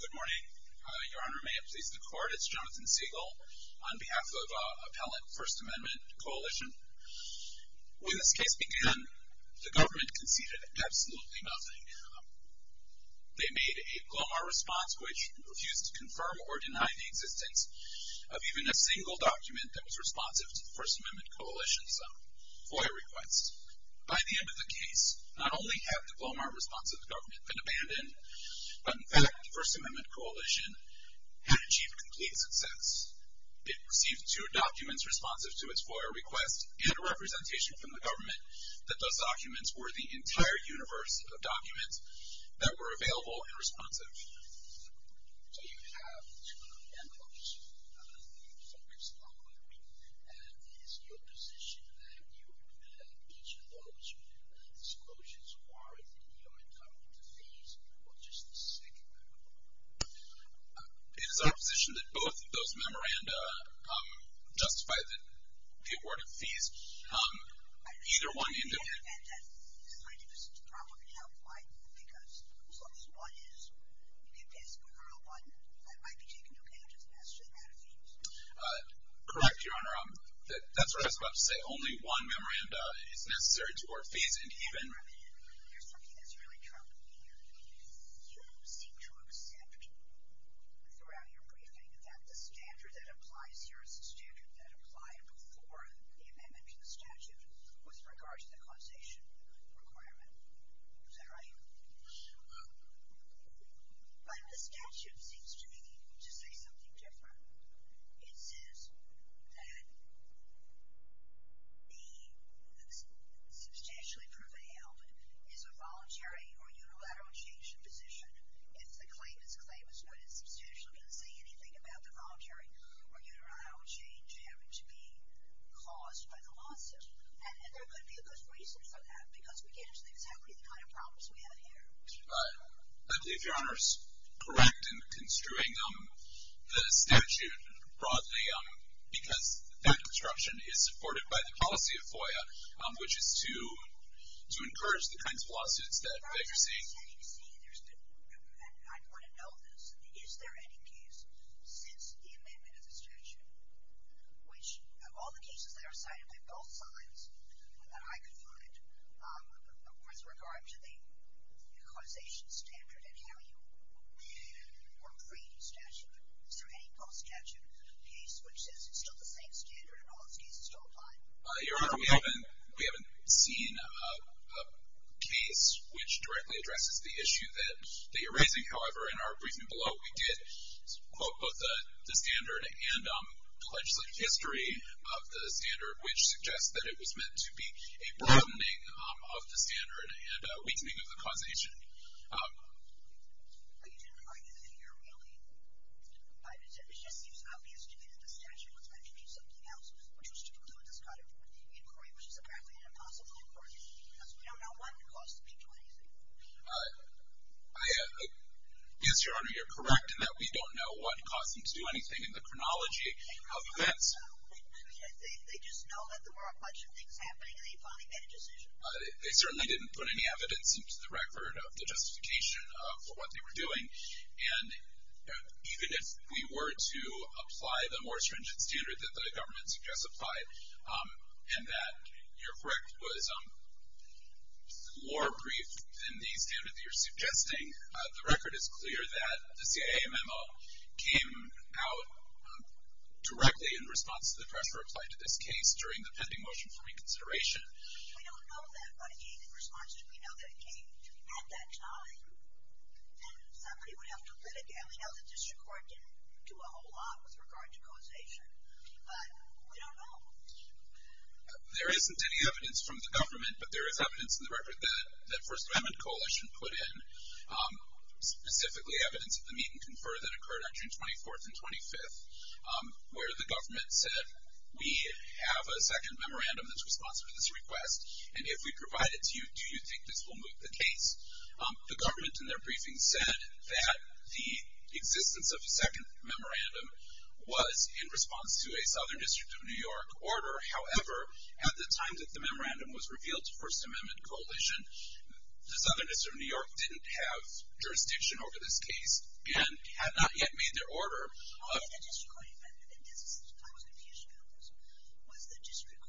Good morning. Your Honor, may it please the Court, it's Jonathan Siegel on behalf of Appellant First Amendment Coalition. When this case began, the government conceded absolutely nothing. They made a glomar response which refused to confirm or deny the existence of even a single document that was responsive to the First Amendment Coalition's FOIA request. By the end of the case, not only had the glomar response of the government been abandoned, but in fact the First Amendment Coalition had achieved complete success. It received two documents responsive to its FOIA request and a representation from the government that those documents were the entire universe of documents that were available and responsive. So you have two memorandums that you've focused on with me. Is your position that each of those disclosures warrant your entitlement to fees or just the second memorandum? It is our position that both of those memoranda justify the award of fees. I understand that. Either one individually. I understand that. This is my deepest problem and help. Why? Because as long as one is, you can basically rule out one that might be taken to account as a necessary amount of fees. Correct, Your Honor. That's what I was about to say. Only one memoranda is necessary to award fees and even. Your Honor, there's something that's really troubling me here. You seem to accept throughout your briefing that the standard that applies here is the standard that applied before the amendment to the statute with regard to the causation requirement. Is that right? Yes, Your Honor. But the statute seems to me to say something different. It says that the substantially prevailed is a voluntary or unilateral change in position. If the claimant's claim is good and substantial, it doesn't say anything about the voluntary or unilateral change having to be caused by the lawsuit. And there could be a good reason for that because we get into exactly the kind of problems we have here. I believe Your Honor is correct in construing the statute broadly because that construction is supported by the policy of FOIA, which is to encourage the kinds of lawsuits that you're seeing. As far as the setting C, I want to know this. Is there any case since the amendment of the statute, which of all the cases that are cited by both sides that I could find, with regard to the causation standard and how you would read or read the statute, is there any post-statute case which says it's still the same standard and all its cases don't apply? Your Honor, we haven't seen a case which directly addresses the issue that you're raising. However, in our briefing below, we did quote both the standard and the legislative history of the standard, which suggests that it was meant to be a broadening of the standard and a weakening of the causation. But you didn't argue that in your ruling. It just seems obvious to me that the statute was meant to do something else, which was to conclude this kind of inquiry, which is apparently an impossible inquiry because we don't know what caused the peak to anything. Yes, Your Honor, you're correct in that we don't know what caused them to do anything in the chronology of events. They just know that there were a bunch of things happening and they finally made a decision. They certainly didn't put any evidence into the record of the justification for what they were doing. And even if we were to apply the more stringent standard that the government suggests applied, and that, you're correct, was more brief than the standard that you're suggesting, the record is clear that the CIA memo came out directly in response to the pressure applied to this case during the pending motion for reconsideration. We don't know that, but in response to it, we know that it came at that time, and somebody would have to litigate. We know the district court didn't do a whole lot with regard to causation, but we don't know. There isn't any evidence from the government, but there is evidence in the record that First Amendment Coalition put in, specifically evidence of the meet and confer that occurred on June 24th and 25th, where the government said, we have a second memorandum that's responsive to this request, and if we provide it to you, do you think this will move the case? The government, in their briefing, said that the existence of a second memorandum was in response to a Southern District of New York order. However, at the time that the memorandum was revealed to First Amendment Coalition, the Southern District of New York didn't have jurisdiction over this case and had not yet made their order. How did the district court defend it? I was confused about this. Did the district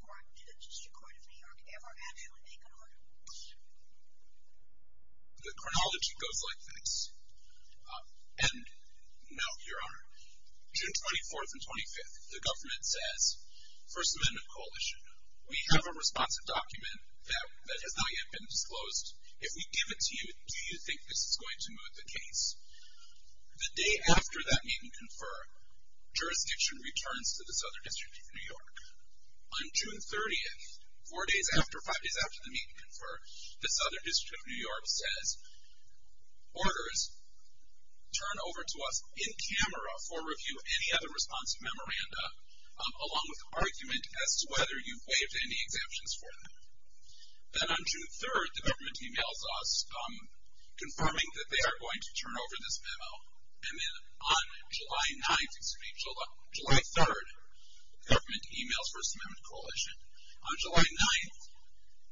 court of New York ever actually make an order? The chronology goes like this, and no, Your Honor. June 24th and 25th, the government says, First Amendment Coalition, we have a responsive document that has not yet been disclosed. If we give it to you, do you think this is going to move the case? The day after that meet and confer, jurisdiction returns to the Southern District of New York. On June 30th, four days after, five days after the meet and confer, the Southern District of New York says, Orders, turn over to us in camera for review of any other responsive memoranda, along with argument as to whether you've waived any exemptions for them. Then on June 3rd, the government emails us, confirming that they are going to turn over this memo. And then on July 9th, excuse me, July 3rd, the government emails First Amendment Coalition. On July 9th,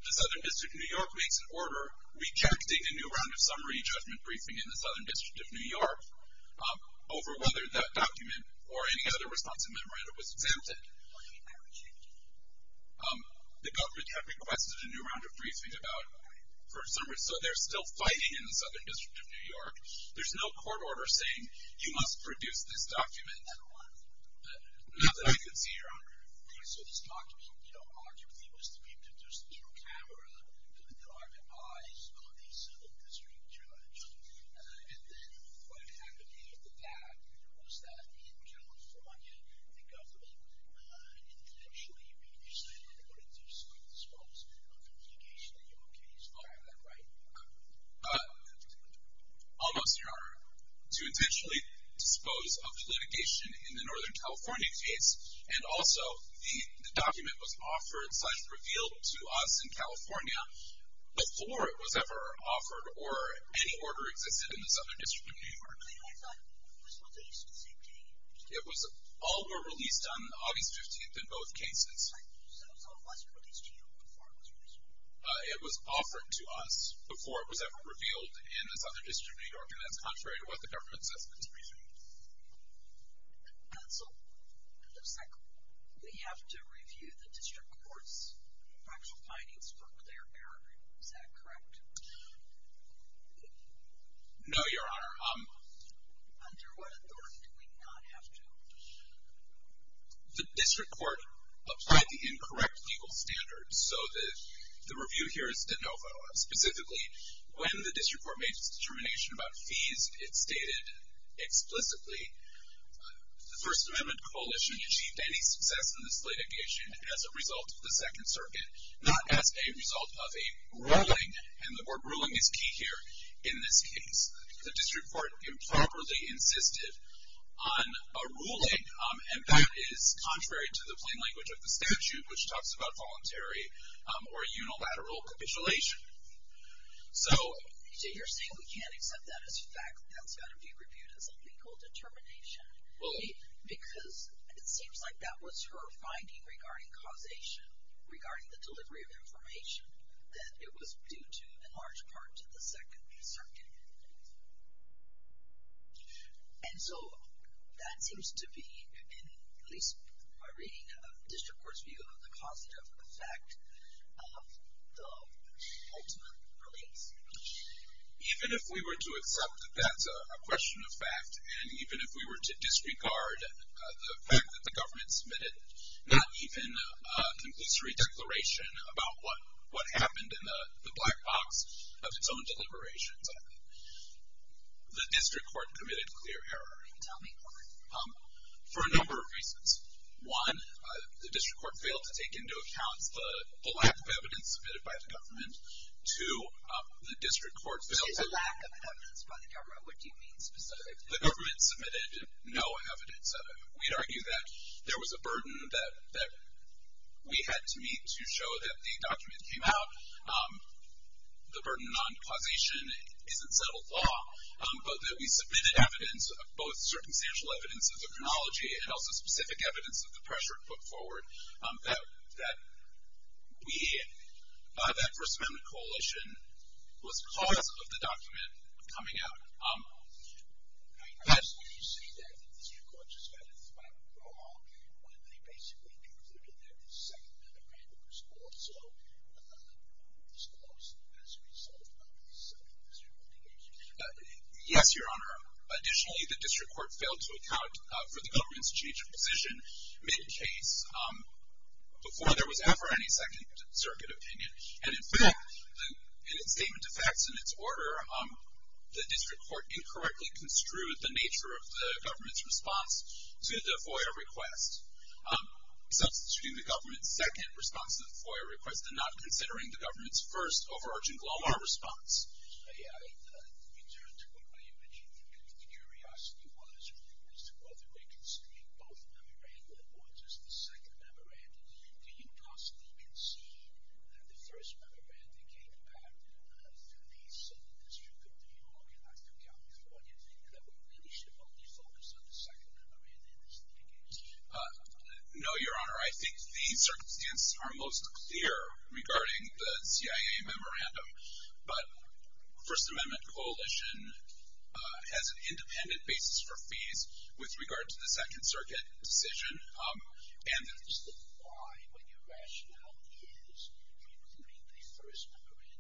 the Southern District of New York makes an order rejecting a new round of summary judgment briefing in the Southern District of New York over whether that document or any other responsive memoranda was exempted. The government had requested a new round of briefing about first summary, so they're still fighting in the Southern District of New York. There's no court order saying you must produce this document. Nothing I can see, Your Honor. So this document, you know, arguably was to be produced through camera to the dark eyes of the Southern District judge. And then what happened after that was that in California, the government intentionally, you said, in order to dispose of litigation in your case. I have that right? Almost, Your Honor. To intentionally dispose of litigation in the Northern California case and also the document was offered, slashed revealed to us in California before it was ever offered or any order existed in the Southern District of New York. It was released on August 15th. It was all were released on August 15th in both cases. So it wasn't released to you before it was released? It was offered to us before it was ever revealed in the Southern District of New York, and that's contrary to what the government says in its briefing. Counsel, just a second. We have to review the district court's factual findings for clear error. Is that correct? No, Your Honor. Under what authority do we not have to? The district court applied the incorrect legal standards. So the review here is de novo. Specifically, when the district court made its determination about fees, it stated explicitly the First Amendment Coalition achieved any success in this litigation as a result of the Second Circuit, not as a result of a ruling, and the word ruling is key here in this case. The district court improperly insisted on a ruling, and that is contrary to the plain language of the statute, which talks about voluntary or unilateral capitulation. So you're saying we can't accept that as fact, that it's got to be reviewed as a legal determination, because it seems like that was her finding regarding causation, regarding the delivery of information, that it was due to, in large part, to the Second Circuit. And so that seems to be, at least my reading of the district court's view of the causative effect of the ultimate release. Even if we were to accept that that's a question of fact, and even if we were to disregard the fact that the government submitted not even a conclusory declaration about what happened in the black box of its own deliberations, the district court committed clear error. Can you tell me why? For a number of reasons. One, the district court failed to take into account the lack of evidence submitted by the government. Two, the district court failed to... If there's a lack of evidence by the government, what do you mean specifically? The government submitted no evidence of it. We'd argue that there was a burden that we had to meet to show that the document came out. The burden on causation isn't settled law, but that we submitted evidence, both circumstantial evidence of the chronology and also specific evidence of the pressure it put forward, that we, that First Amendment Coalition, was cause of the document coming out. I guess when you say that, that the district court just got it's final draw when they basically concluded that the Second Amendment was also as close as we said it was. Is there anything else you'd like to add? Yes, Your Honor. Additionally, the district court failed to account for the government's change of position mid-case before there was ever any Second Circuit opinion. And in fact, in its statement of facts and its order, the district court incorrectly construed the nature of the government's response to the FOIA request. Substituting the government's second response to the FOIA request and not considering the government's first overarching global response. To return to what you mentioned, the curiosity was as to whether they considered both memorandum or just the second memorandum. Do you possibly concede that the first memorandum came back to the district of New York and not to California? And that the leadership only focused on the second memorandum in its thinking? No, Your Honor. I think the circumstances are most clear regarding the CIA memorandum. But the First Amendment Coalition has an independent basis for fees with regard to the Second Circuit decision. And why would your rationale use including the first memorandum?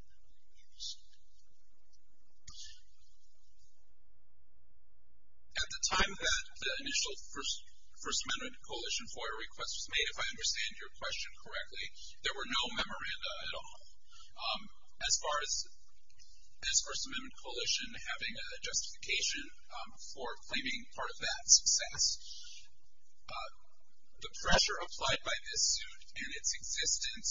At the time that the initial First Amendment Coalition FOIA request was made, if I understand your question correctly, there were no memoranda at all. As far as this First Amendment Coalition having a justification for claiming part of that success, the pressure applied by this suit and its existence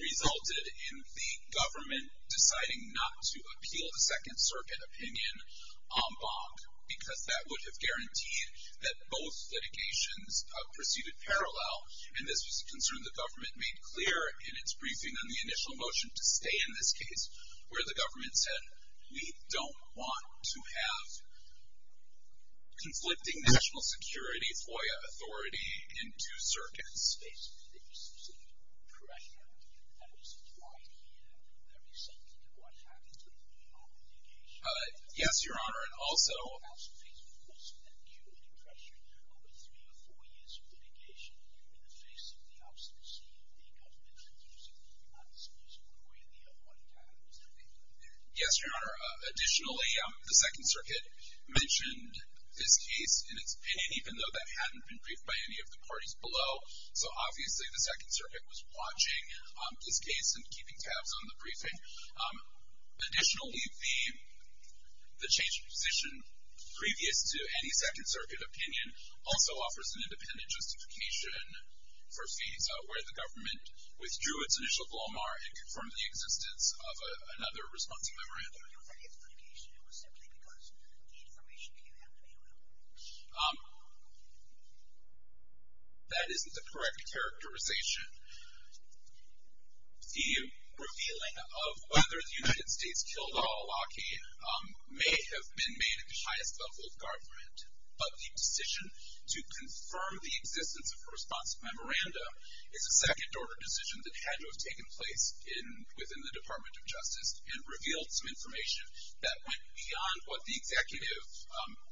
resulted in the government deciding not to appeal the Second Circuit opinion en banc because that would have guaranteed that both litigations proceeded parallel. And this was a concern the government made clear in its briefing on the initial motion to stay in this case where the government said, we don't want to have conflicting national security, FOIA authority in two circuits. Yes, Your Honor. And also... Yes, Your Honor. Additionally, the Second Circuit mentioned this case in its opinion, even though that hadn't been briefed by any of the parties below. So obviously the Second Circuit was watching this case and keeping tabs on the briefing. Additionally, the change of position previous to any Second Circuit opinion also offers an independent justification for FATA where the government withdrew its initial glomar and confirmed the existence of another response memorandum. That isn't the correct characterization. The revealing of whether the United States killed Al-Awlaki may have been made at the highest level of government, but the decision to confirm the existence of a response memorandum is a second-order decision that had to have taken place within the Department of Justice and revealed some information that went beyond what the executive,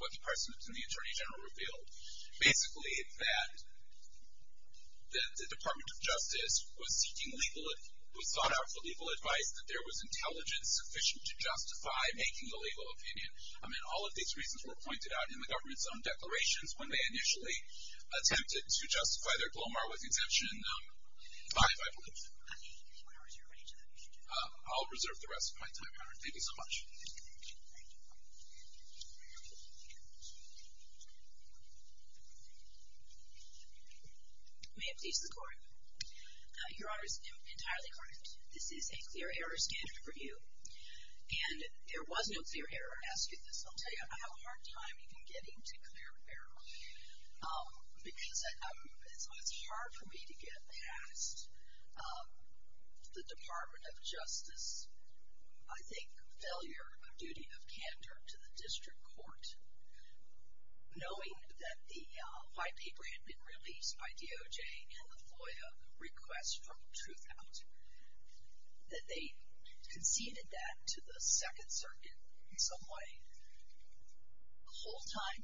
what the President and the Attorney General revealed. Basically, that the Department of Justice was sought out for legal advice, that there was intelligence sufficient to justify making a legal opinion. I mean, all of these reasons were pointed out in the government's own declarations when they initially attempted to justify their glomar with Exemption 5, I believe. I'll reserve the rest of my time, Your Honor. Thank you so much. May it please the Court. Your Honor is entirely correct. This is a clear error standard for you, and there was no clear error, I ask you this. I'll tell you, I have a hard time even getting to clear error because it's hard for me to get past the Department of Justice, I think, failure of duty of candor to the district court, knowing that the white paper had been released by DOJ and the FOIA request from Truthout, that they conceded that to the Second Circuit in some way. The whole time,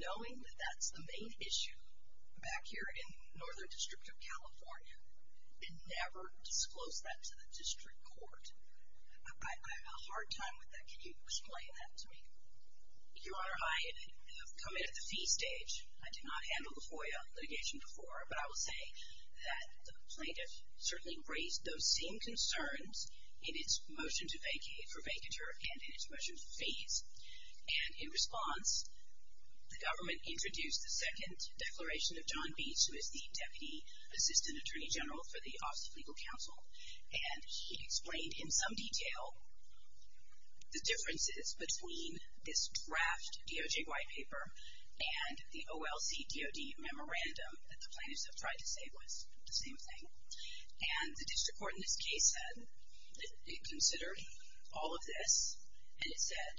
knowing that that's the main issue back here in Northern District of California, it never disclosed that to the district court. I have a hard time with that. Can you explain that to me? Your Honor, I have come in at the fee stage. I did not handle the FOIA litigation before, but I will say that the plaintiff certainly raised those same concerns in its motion for vacatur and in its motion for fees, and in response, the government introduced the second declaration of John Beas, who is the Deputy Assistant Attorney General for the Office of Legal Counsel, and he explained in some detail the differences between this draft DOJ white paper and the OLC DOD memorandum that the plaintiffs have tried to say was the same thing, and the district court in this case said it considered all of this, and it said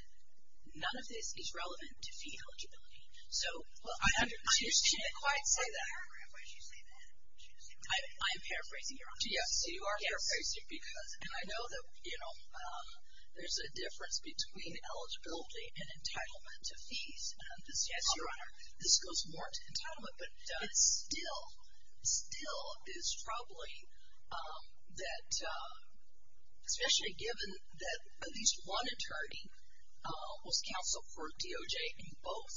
none of this is relevant to fee eligibility. So, I understand that. Why did you say that? I'm paraphrasing, Your Honor. Yes, you are paraphrasing because, and I know that, you know, there's a difference between eligibility and entitlement to fees. Yes, Your Honor. This goes more to entitlement, but it still, still is troubling that, especially given that at least one attorney was counseled for DOJ in both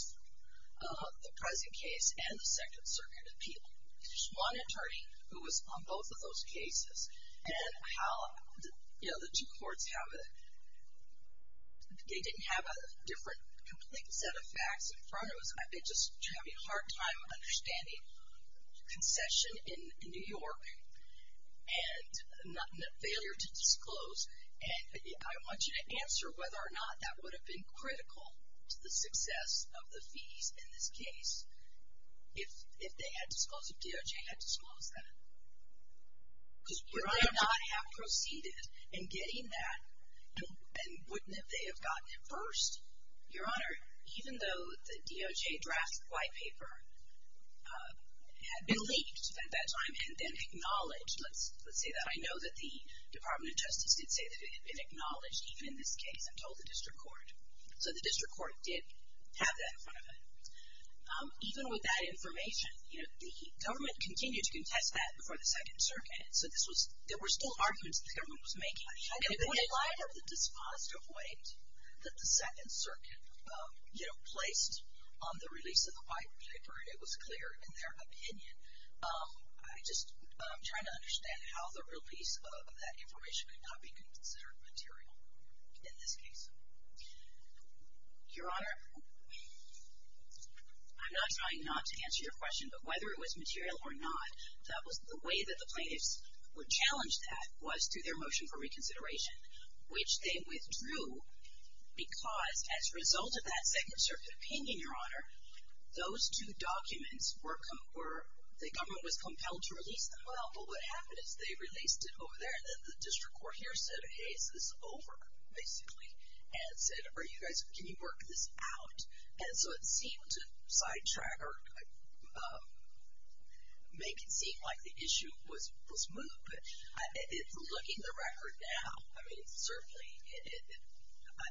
the present case and the Second Circuit appeal. There's one attorney who was on both of those cases, and how, you know, the two courts have a, they didn't have a different complete set of facts in front of us. I've been just having a hard time understanding concession in New York and failure to disclose, and I want you to answer whether or not that would have been critical to the success of the fees in this case if they had disclosed, if DOJ had disclosed that. Because would they not have proceeded in getting that, and wouldn't they have gotten it first? Your Honor, even though the DOJ draft white paper had been leaked at that time and then acknowledged, let's say that I know that the Department of Justice did say that it had been acknowledged even in this case and told the District Court. So the District Court did have that in front of it. Even with that information, you know, the government continued to contest that before the Second Circuit, so there were still arguments that the government was making. In light of the dispositive weight that the Second Circuit, you know, placed on the release of the white paper, it was clear in their opinion, I'm just trying to understand how the release of that information could not be considered material in this case. Your Honor, I'm not trying not to answer your question, but whether it was material or not, that was the way that the plaintiffs were challenged that was through their motion for reconsideration, which they withdrew because as a result of that Second Circuit opinion, Your Honor, those two documents were, the government was compelled to release them. Well, but what happened is they released it over there and then the District Court here said, hey, is this over basically? And said, are you guys, can you work this out? And so it seemed to sidetrack or make it seem like the issue was moved, but looking at the record now, I mean, it's certainly,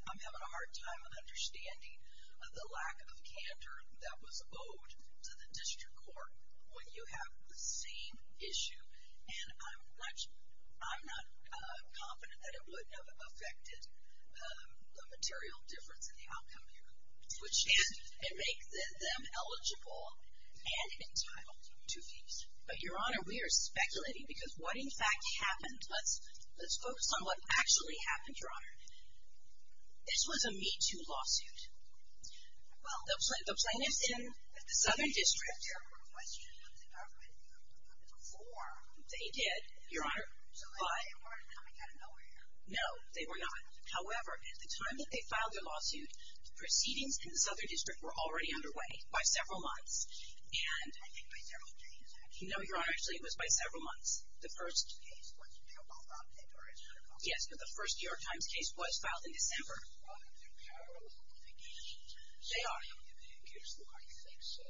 I'm having a hard time understanding the lack of candor that was owed to the District Court when you have the same issue. And I'm not confident that it would have affected the material difference in the outcome here, which can make them eligible and entitled to fees. But Your Honor, we are speculating because what in fact happened, let's focus on what actually happened, Your Honor. This was a Me Too lawsuit. Well, the plaintiffs in the Southern District were questioned by the government before. They did, Your Honor. So they weren't coming out of nowhere. No, they were not. However, at the time that they filed their lawsuit, the proceedings in the Southern District were already underway by several months. I think by several days, actually. No, Your Honor, actually it was by several months. The first case was the New York Times case. Yes, but the first New York Times case was filed in December. Well, do they have a notification? They are. I think so.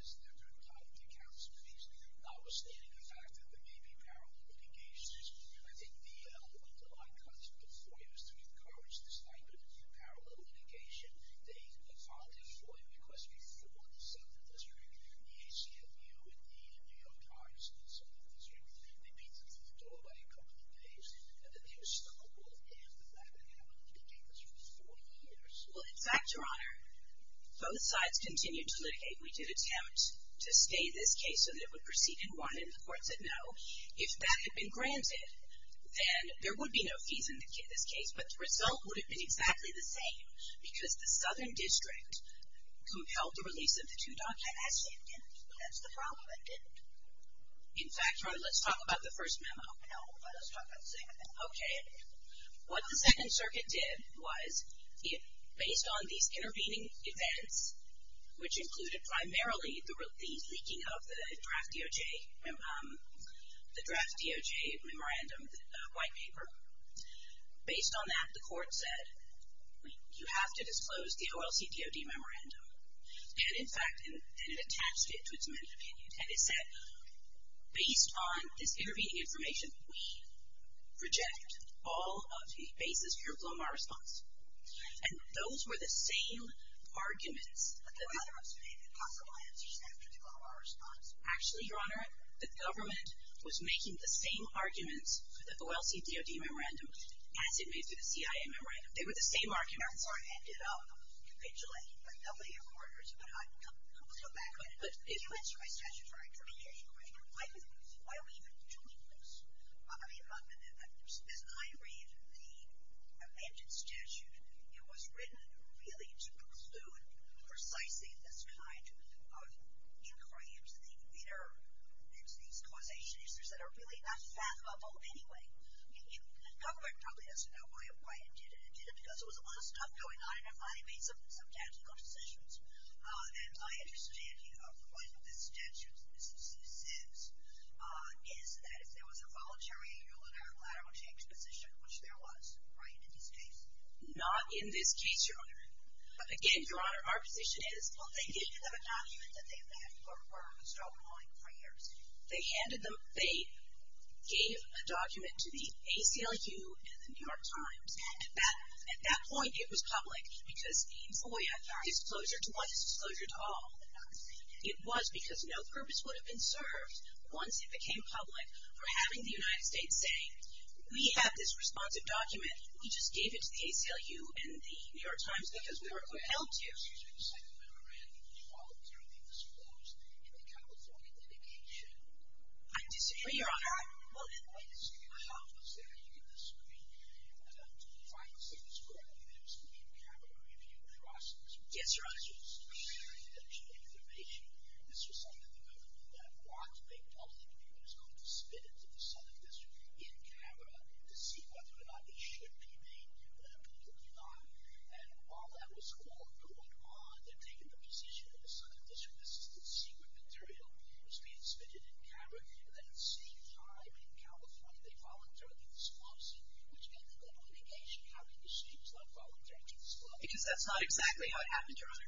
Well, in fact, Your Honor, both sides continued to litigate. We did attempt to stay this case so that it would proceed in one, and the court said no. If that had been granted, then there would be no fees in this case, but the result would have been exactly the same because the Southern District compelled the release of the two documents. Actually, it didn't. That's the problem. It didn't. In fact, Your Honor, let's talk about the first memo. No, let us talk about the second memo. Okay. What the Second Circuit did was, based on these intervening events, which included primarily the leaking of the draft DOJ memorandum, the white paper, based on that, the court said, you have to disclose the OLC DOD memorandum, and in fact, it attached it to its amended opinion, and it said, based on this intervening information, we reject all of the basis for your glomar response, and those were the same arguments. But the government made impossible answers after the glomar response. Actually, Your Honor, the government was making the same arguments for the OLC DOD memorandum as it made for the CIA memorandum. They were the same arguments. That's why I ended up convictualized by doubling your orders. But, uh, let's go back a minute. If you answer my statute for intervening, why are we even doing this? I mean, as I read the amended statute, it was written really to preclude precisely this kind of incrimes, the litter, and these causation issues that are really not fathomable anyway. The government probably doesn't know why it did it. It did it because there was a lot of stuff going on, and it finally made some tactical decisions. And my understanding of what the statute, uh, is that if there was a voluntary unilateral change position, which there was, right, in this case? Not in this case, Your Honor. Again, Your Honor, our position is... Well, they gave them a document that they had had for a startling three years. They handed them... They gave a document to the ACLU and the New York Times. At that point, it was public because FOIA got disclosure to want disclosure to all. It was because no purpose would have been served once it became public for having the United States saying, we have this responsive document. We just gave it to the ACLU and the New York Times because we were compelled to. I disagree, Your Honor. Yes, Your Honor. This was something that the government did not want to make public because it was going to spit it to the Southern District in camera to see whether or not it should be made public or not. And while that was all going on, they're taking the position of the Southern District to see what material is being spitted in camera. And at the same time, in California, they voluntarily disclosed it, which meant that that litigation happened. The state was not voluntary to disclose it. Because that's not exactly how it happened, Your Honor.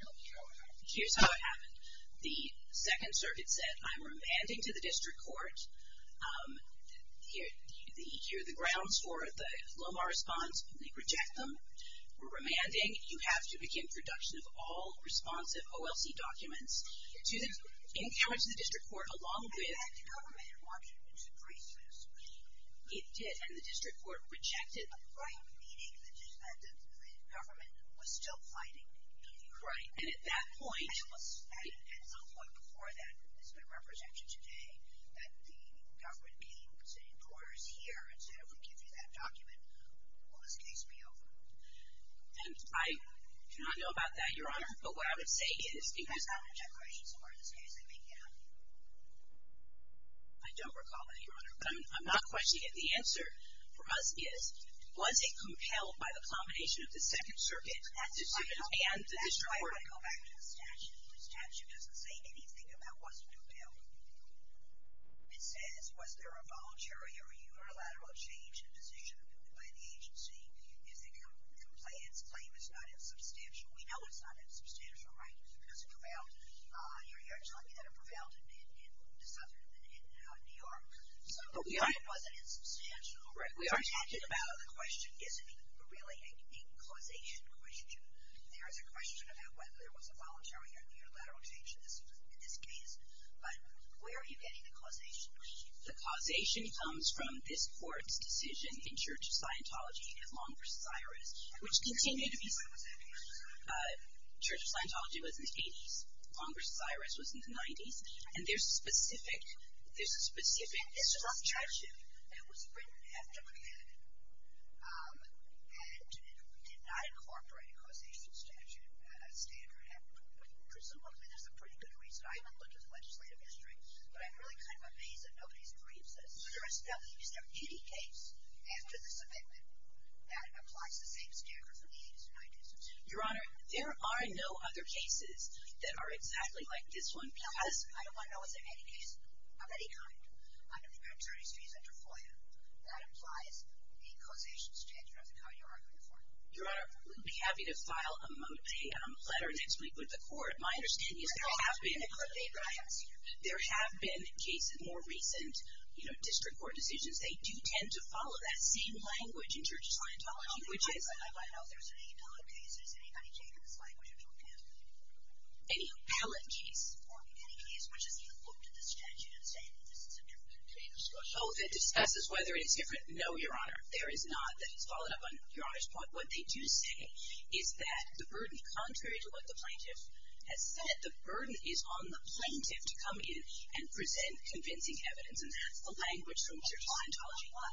Here's how it happened. The Second Circuit said, I'm remanding to the District Court. Here are the grounds for the Lomar response. We reject them. We're remanding. You have to begin production of all responsive OLC documents in camera to the District Court along with... It did, and the District Court rejected. Right, meaning that the government was still fighting. Right. And at that point... At some point before that, it's been represented today that the government came to the courthouse here and said, if we give you that document, will this case be over? And I do not know about that, Your Honor. But what I would say is... You guys have an interrogation somewhere in this case that may get out. I don't recall that, Your Honor. But I'm not questioning it. The answer for us is, was it compelled by the combination of the Second Circuit and the District Court? I want to go back to the statute. The statute doesn't say anything about was it compelled. It says, was there a voluntary or unilateral change in decision by the agency if the complainant's claim is not insubstantial? We know it's not insubstantial, right? Because it prevailed... You're telling me that it prevailed in New York. But we know it wasn't insubstantial. We are talking about the question, is it really a causation question? There is a question about whether there was a voluntary or unilateral change in this case. But where are you getting the causation? The causation comes from this Court's decision in Church of Scientology, in Long v. Cyrus, which continued... Church of Scientology was in the 80s. Long v. Cyrus was in the 90s. And there's a specific statute that was written after the candidate and did not incorporate a causation standard. Presumably, there's a pretty good reason. I haven't looked at the legislative history, but I'm really kind of amazed that nobody's agreed to this. Is there any case after this amendment that applies the same standard from the 80s to 90s? Your Honor, there are no other cases that are exactly like this one because I don't want to know is there any case of any kind under the Paternity States under FOIA that applies a causation standard of the kind you're arguing for. Your Honor, we'd be happy to file a letter next week with the Court. My understanding is there have been cases... There have been cases, more recent district court decisions, they do tend to follow that same language in Church of Scientology, which is... I don't know if there's any appellate cases. Anybody take this language into account? Any appellate case? Or any case which has looked at the statute and said this is a different kind of discussion? Oh, if it discusses whether it is different, no, Your Honor. There is not. That is followed up on Your Honor's point. What they do say is that the burden, contrary to what the plaintiff has said, the burden is on the plaintiff to come in and present convincing evidence, and that's the language from Church of Scientology. Why?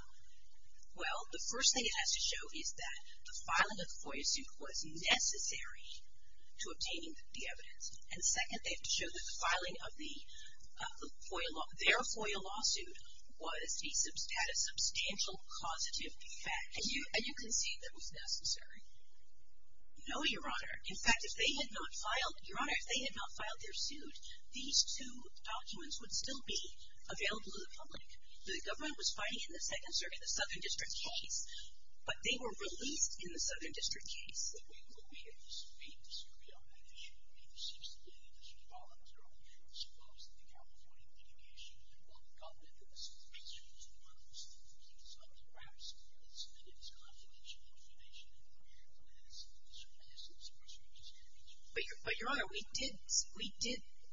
Well, the first thing it has to show is that the filing of the FOIA suit was necessary to obtaining the evidence. And second, they have to show that the filing of their FOIA lawsuit had a substantial causative effect. And you concede that it was necessary? No, Your Honor. In fact, if they had not filed their suit, these two documents would still be available to the public. The government was fighting in the Second Circuit the Southern District case, but they were released in the Southern District case. We disagree on that issue. But, Your Honor, we did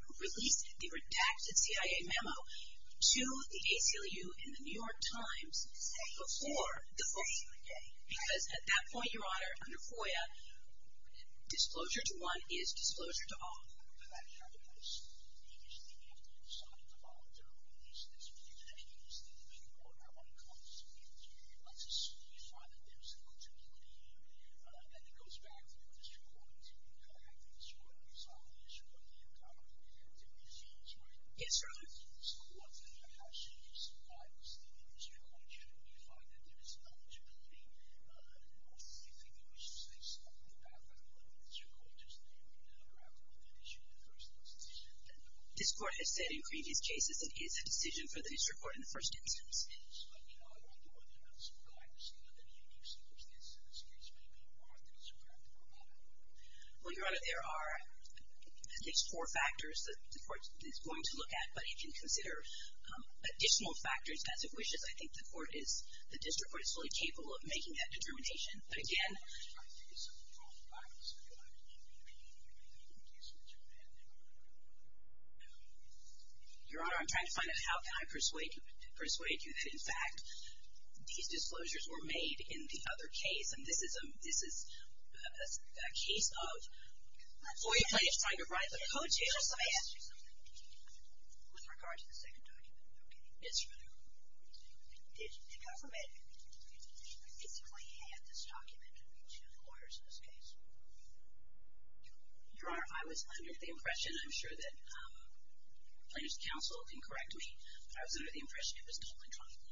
release the redacted CIA memo to the ACLU and the New York Times before the FOIA. Because at that point, Your Honor, under FOIA, disclosure to one is disclosure to all. Yes, Your Honor. Yes. This Court has said in previous cases that it is a decision for the district court in the first instance. Well, Your Honor, there are at least four factors that the Court is going to look at, but you can consider additional factors as it wishes. I think the court is, the district court, is fully capable of making that determination. But again... Your Honor, I'm trying to find out how can I persuade you that, in fact, these disclosures were made in the other case. And this is a case of FOIA plaintiffs trying to bribe the co-chairs. Let me ask you something. With regard to the second document. Yes, Your Honor. Your Honor, I was under the impression, I'm sure that plaintiff's counsel can correct me, but I was under the impression it was not electronically.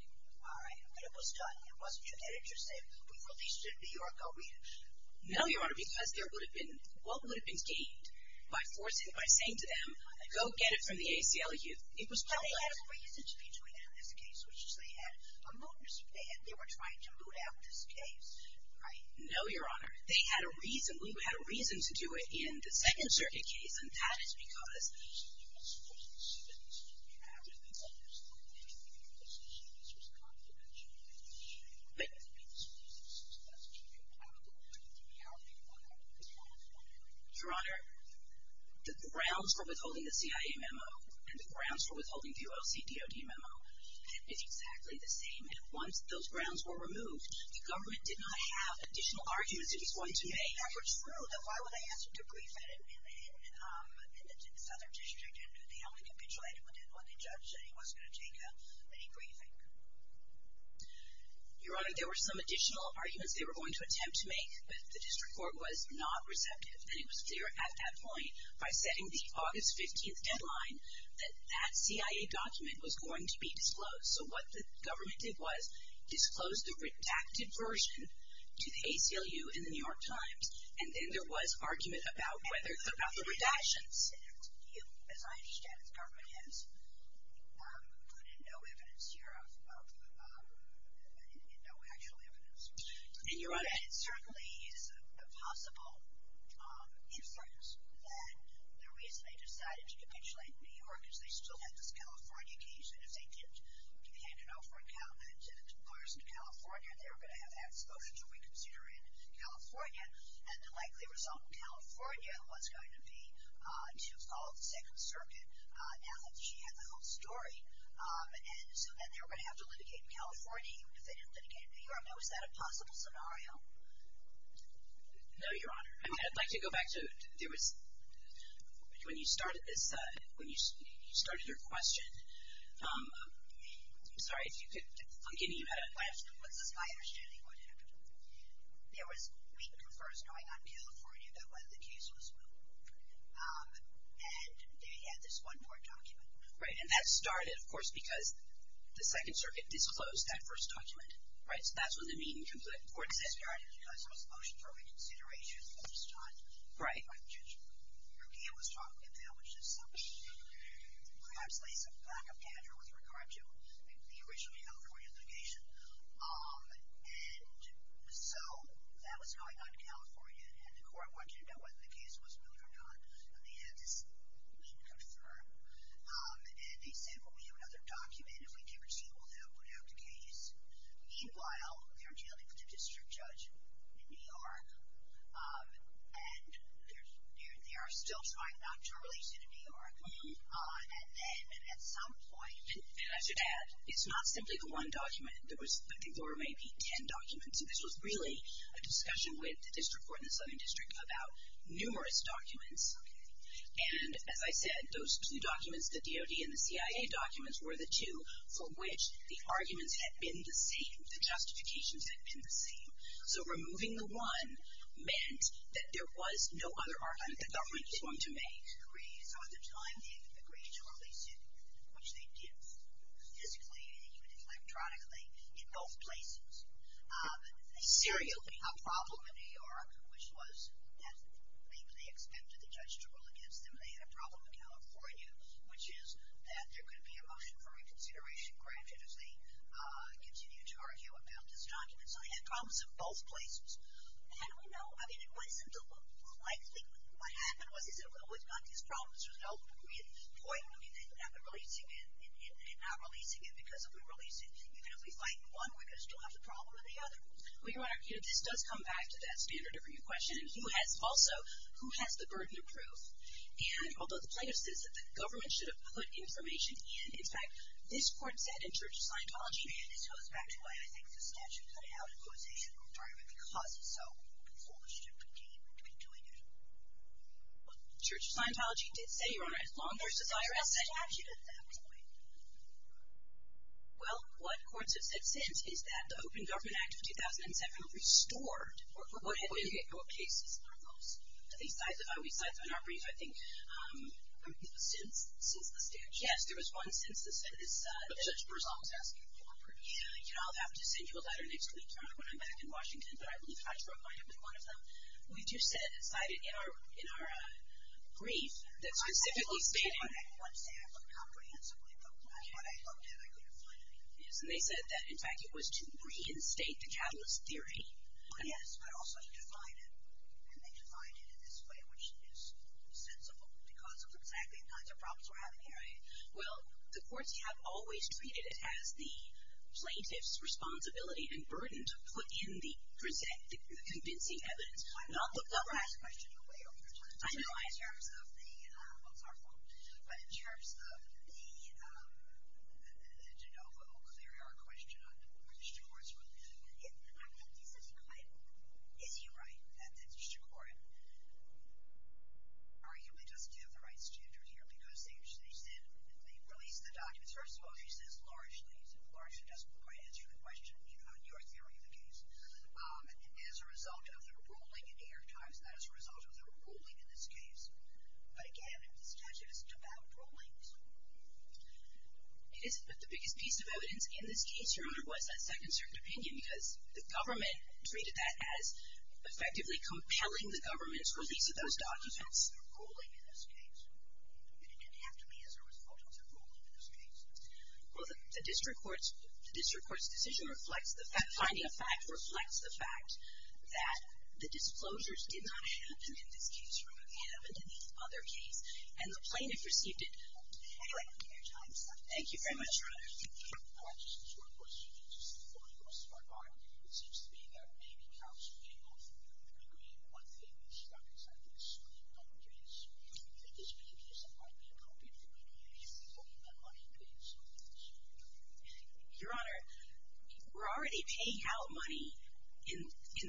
No, Your Honor, because there would have been, what would have been gained by forcing, by saying to them, go get it from the ACLU. Well, they had a reason to be doing it in this case, which is they had a moot. They were trying to moot out this case, right? No, Your Honor. They had a reason. We had a reason to do it in the Second Circuit case, and that is because... Your Honor, the grounds for withholding the CIA memo and the grounds for withholding the OCDOD memo is exactly the same. And once those grounds were removed, the government did not have additional arguments that he's going to make. Your Honor, there were some additional arguments they were going to attempt to make, but the district court was not receptive. And it was clear at that point, by setting the August 15th deadline, that that CIA document was going to be disclosed. So, what the government did was disclose the redacted version to the ACLU and the New York Times, and then there was argument about whether, about the redactions. As I understand it, the government has put in no evidence here, in no actual evidence. Your Honor, it certainly is a possible inference that the reason they decided to capitulate New York is they still had this California case, and if they didn't hand it over to lawyers in California, they were going to have to have this voted to reconsider in California. And the likely result in California was going to be to follow the Second Circuit, now that she had the whole story. And so then they were going to have to litigate in California, even if they didn't litigate in New York. Now, is that a possible scenario? No, Your Honor. I'd like to go back to, there was, when you started this, when you started your question, I'm sorry if you could, I'm getting you out of, What's this, my understanding, what happened? There was weak confers going on in California about whether the case was moved. And they had this one more document. Right. And that started, of course, because the Second Circuit disclosed that first document. Right? So that's when the meeting concluded. It started because there was a motion for reconsideration at this time. Right. By the judge. Your game was talking about, which is something that perhaps lays a lack of candor with regard to the original California litigation. And so that was going on in California, and the court wanted to know whether the case was moved or not. And they had this weak confer. And they said, well, we have another document. If we can't receive it, we'll now put out the case. Meanwhile, they're dealing with a district judge in New York, and they are still trying not to release it in New York. And then, at some point, And I should add, it's not simply the one document. I think there were maybe ten documents. This was really a discussion with the district court in the Southern District about numerous documents. And, as I said, those two documents, the DOD and the CIA documents, were the two for which the arguments had been the same, the justifications had been the same. So removing the one meant that there was no other argument the government was going to make. So at the time, they agreed to release it, which they did physically and even electronically in both places. They serially had a problem in New York, which was that maybe they expected the judge to rule against them. They had a problem in California, which is that there could be a motion for reconsideration granted if they continue to argue about this document. So they had problems in both places. And we know, I mean, it wasn't likely. What happened was they said, well, we've got these problems. There's no point, I mean, in not releasing it. Because if we release it, even if we fight and won, we're going to still have the problem of the other. Well, Your Honor, this does come back to that standard of review question. Also, who has the burden of proof? And although the plaintiff says that the government should have put information in, in fact, this court said in Church of Scientology, and this goes back to why I think the statute could have a causation requirement, because it's so foolish to continue to be doing it. Church of Scientology did say, Your Honor, as long as there's a statute at that point. Well, what courts have said since is that the Open Government Act of 2007 restored what had been the cases on those. Besides, in our brief, I think, since the statute. Yes, there was one since the statute. But Judge Berzon was asking for proof. You know, I'll have to send you a letter next week, Your Honor, when I'm back in Washington, but I believe I broke my neck with one of them. We just cited in our brief that specifically stated I didn't want to say I looked comprehensively, but when I looked at it, I couldn't find anything. Yes, and they said that, in fact, it was to reinstate the catalyst theory. Yes, but also to define it, and they defined it in this way, which is sensible because of exactly the kinds of problems we're having here. Well, the courts have always treated it as the plaintiff's responsibility and burden to put in the, present the convincing evidence. I've never asked a question your way over time. I know, in terms of the, well, it's our fault, but in terms of the de novo clear air question on whether the district court is really doing anything, I think this is quite, is he right that the district court arguably doesn't have the right standard here because they released the documents. First of all, he says largely, he largely doesn't quite answer the question on your theory of the case. As a result of the ruling in the New York Times, not as a result of the ruling in this case, but again, the statute isn't about rulings. It isn't, but the biggest piece of evidence in this case, Your Honor, was that second certain opinion because the government treated that as effectively compelling the government's release of those documents. As a result of the ruling in this case. It didn't have to be as a result of the ruling in this case. Well, the district court's, the district court's decision reflects the fact, finding a fact, reflects the fact that the disclosures did not happen in this case. They happened in the other case. And the plaintiff received it. Anyway, New York Times. Thank you very much, Your Honor. I'd like to ask a short question, just before I go to my spot, Your Honor. It seems to me that it may be counseling of, I mean, one thing that struck us, I think, certainly in the public case. In this public case, it might be appropriate for me to ask if the public had money to do something. Your Honor, we're already paying out money in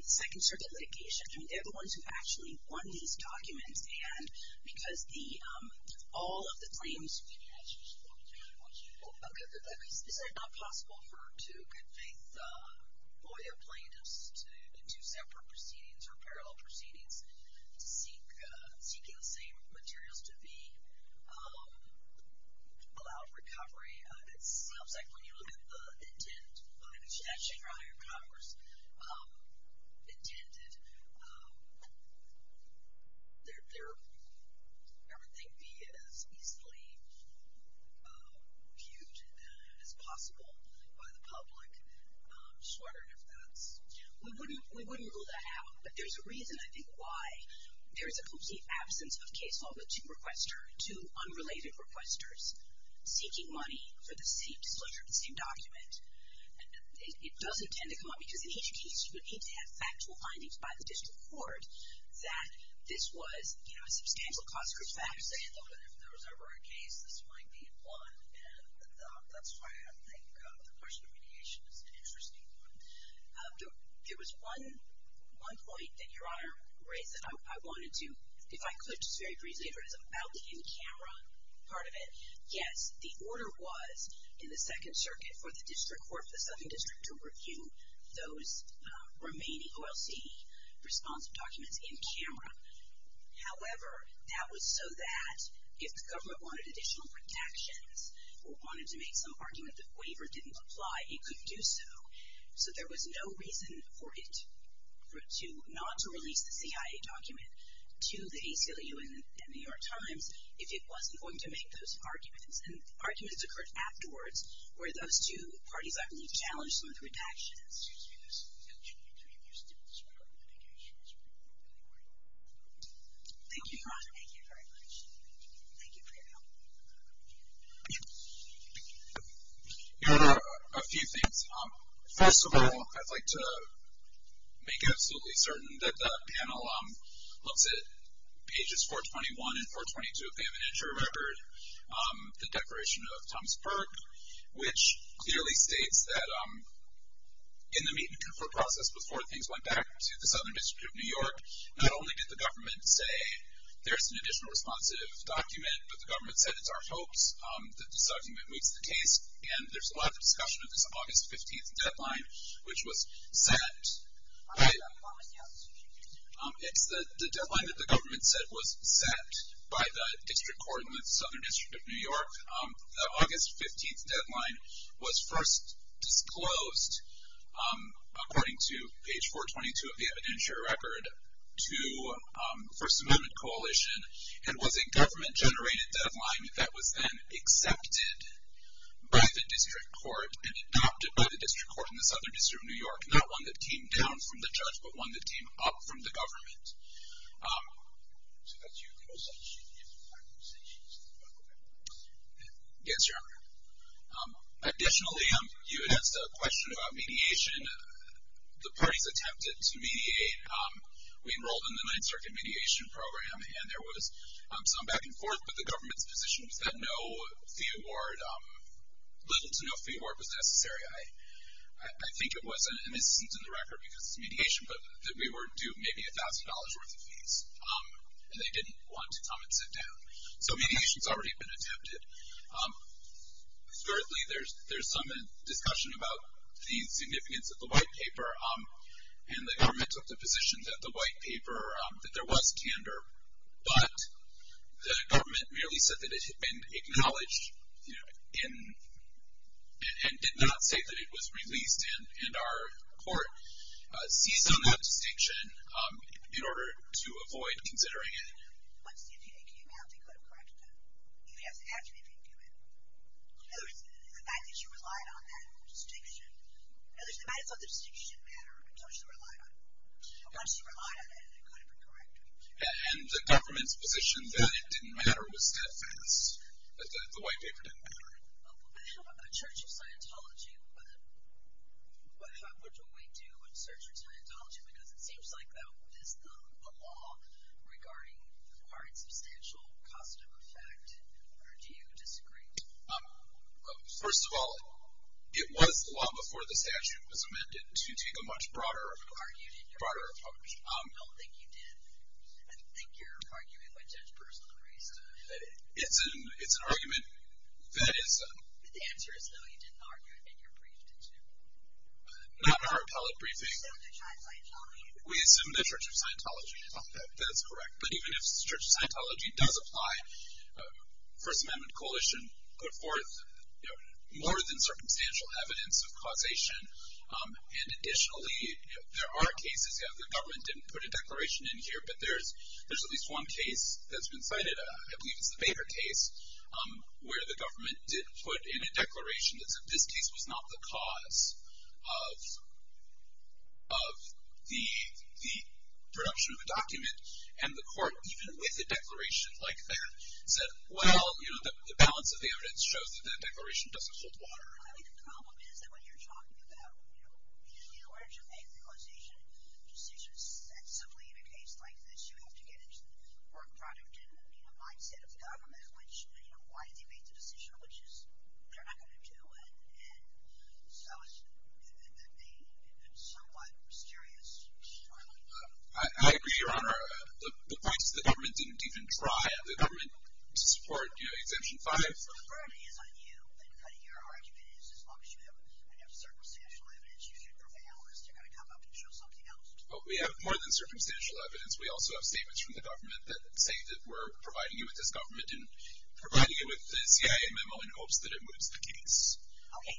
the Second Circuit litigation. I mean, they're the ones who actually won these documents. And because the, all of the claims. Is it not possible for two good faith lawyer plaintiffs in two separate proceedings or parallel proceedings seeking the same materials to be allowed recovery? It seems like when you look at the intent, which actually Your Honor, Congress intended, everything be as easily viewed as possible by the public. Just wondering if that's. We wouldn't rule that out. But there's a reason, I think, why there is a complete absence of case law with two unrelated requesters seeking money for the same disclosure of the same document. It doesn't tend to come up, because in each case you would need to have factual findings by the district court that this was a substantial cost for facts. I actually thought that if there was ever a case, this might be one. And that's why I think the question of mediation is an interesting one. There was one point that Your Honor raised that I wanted to, if I could just very briefly, it was about the in-camera part of it. Yes, the order was in the Second Circuit for the district court for the Southern District to review those remaining OLC responsive documents in camera. However, that was so that if the government wanted additional protections or wanted to make some argument that waiver didn't apply, it could do so. So there was no reason for it not to release the CIA document to the ACLU and New York Times if it wasn't going to make those arguments. And arguments occurred afterwards where those two parties, I believe, challenged some of the redactions. Thank you, Your Honor. Thank you very much. Thank you for your help. Thank you. Your Honor, a few things. First of all, I'd like to make absolutely certain that the panel looks at pages 421 and 422 of the evidentiary record, the Declaration of Tomsburg, which clearly states that in the meet-and-confront process before things went back to the Southern District of New York, not only did the government say there's an additional responsive document, but the government said it's our hopes that this document moves the case. And there's a lot of discussion of this August 15th deadline, which was set... It's the deadline that the government said was set by the district court in the Southern District of New York. The August 15th deadline was first disclosed, according to page 422 of the evidentiary record, to First Amendment Coalition and was a government-generated deadline that was then accepted by the district court and adopted by the district court in the Southern District of New York, not one that came down from the judge, but one that came up from the government. So that's your close-up. Yes, Your Honor. Additionally, you had asked a question about mediation. The parties attempted to mediate. We enrolled in the Ninth Circuit mediation program, and there was some back and forth, but the government's position was that no fee award, little to no fee award was necessary. I think it was an instance in the record, because it's mediation, but that we were due maybe $1,000 worth of fees, and they didn't want to come and sit down. So mediation's already been attempted. Thirdly, there's some discussion about the significance of the white paper, and the government took the position that the white paper, that there was candor, but the government merely said that it had been acknowledged and did not say that it was released, and our court seized on that distinction in order to avoid considering it. Once the FDA came out, they could have corrected it. You'd have to ask the FDA to do it. The fact that you relied on that distinction, in other words, they might have thought the distinction mattered, so they should have relied on it. Once you relied on it, it could have been corrected. And the government's position that it didn't matter was that the white paper didn't matter. We have a church of Scientology, but what do we do in search of Scientology? Because it seems like that is the law regarding the part of substantial cost of effect, or do you disagree? First of all, it was the law before the statute was amended to take a much broader approach. I don't think you did. I think you're arguing with Judge Bruce LaCresta. It's an argument that is... The answer is no, you didn't argue it in your brief, did you? Not in our appellate briefing. We assumed a church of Scientology. We assumed a church of Scientology. That's correct. But even if the church of Scientology does apply, First Amendment Coalition put forth more than circumstantial evidence of causation, and additionally, there are cases where the government didn't put a declaration in here, but there's at least one case that's been cited, I believe it's the Baker case, where the government didn't put in a declaration that said this case was not the cause of the production of the document, and the court, even with a declaration like that, said, well, the balance of the evidence shows that that declaration doesn't hold water. I think the problem is that when you're talking about, in order to make the causation decision, and simply in a case like this, you have to get into the work product and mindset of the government, why did they make the decision, which is, they're not going to do it, and so it's somewhat mysterious. I agree, Your Honor. The point is the government didn't even try. The government supported Exemption 5. So the burden is on you, and your argument is, as long as you have circumstantial evidence, you should prevail, or is there going to come up and show something else? Well, we have more than circumstantial evidence. We also have statements from the government that say that we're providing you with this government and providing you with a CIA memo in hopes that it moves the case. Okay,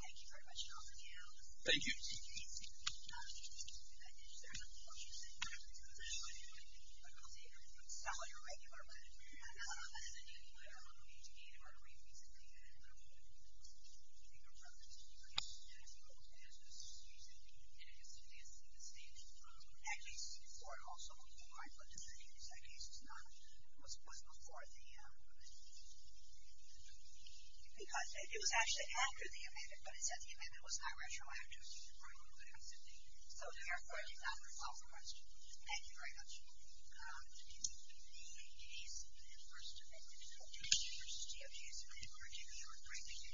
thank you very much, Your Honor. Thank you. There's a quote you said, but I'll take it, and I'll sell you a regular letter. It's a daily letter. I don't know if you need it or if you need me to take it. I don't know if you need it. I think the reference to the previous statement is just using it as evidence in the statement. That case, also, was before I put this in. That case was before the amendment. Because it was actually after the amendment, but it said the amendment was not retroactive. So therefore, it did not resolve the question. Thank you very much. Thank you.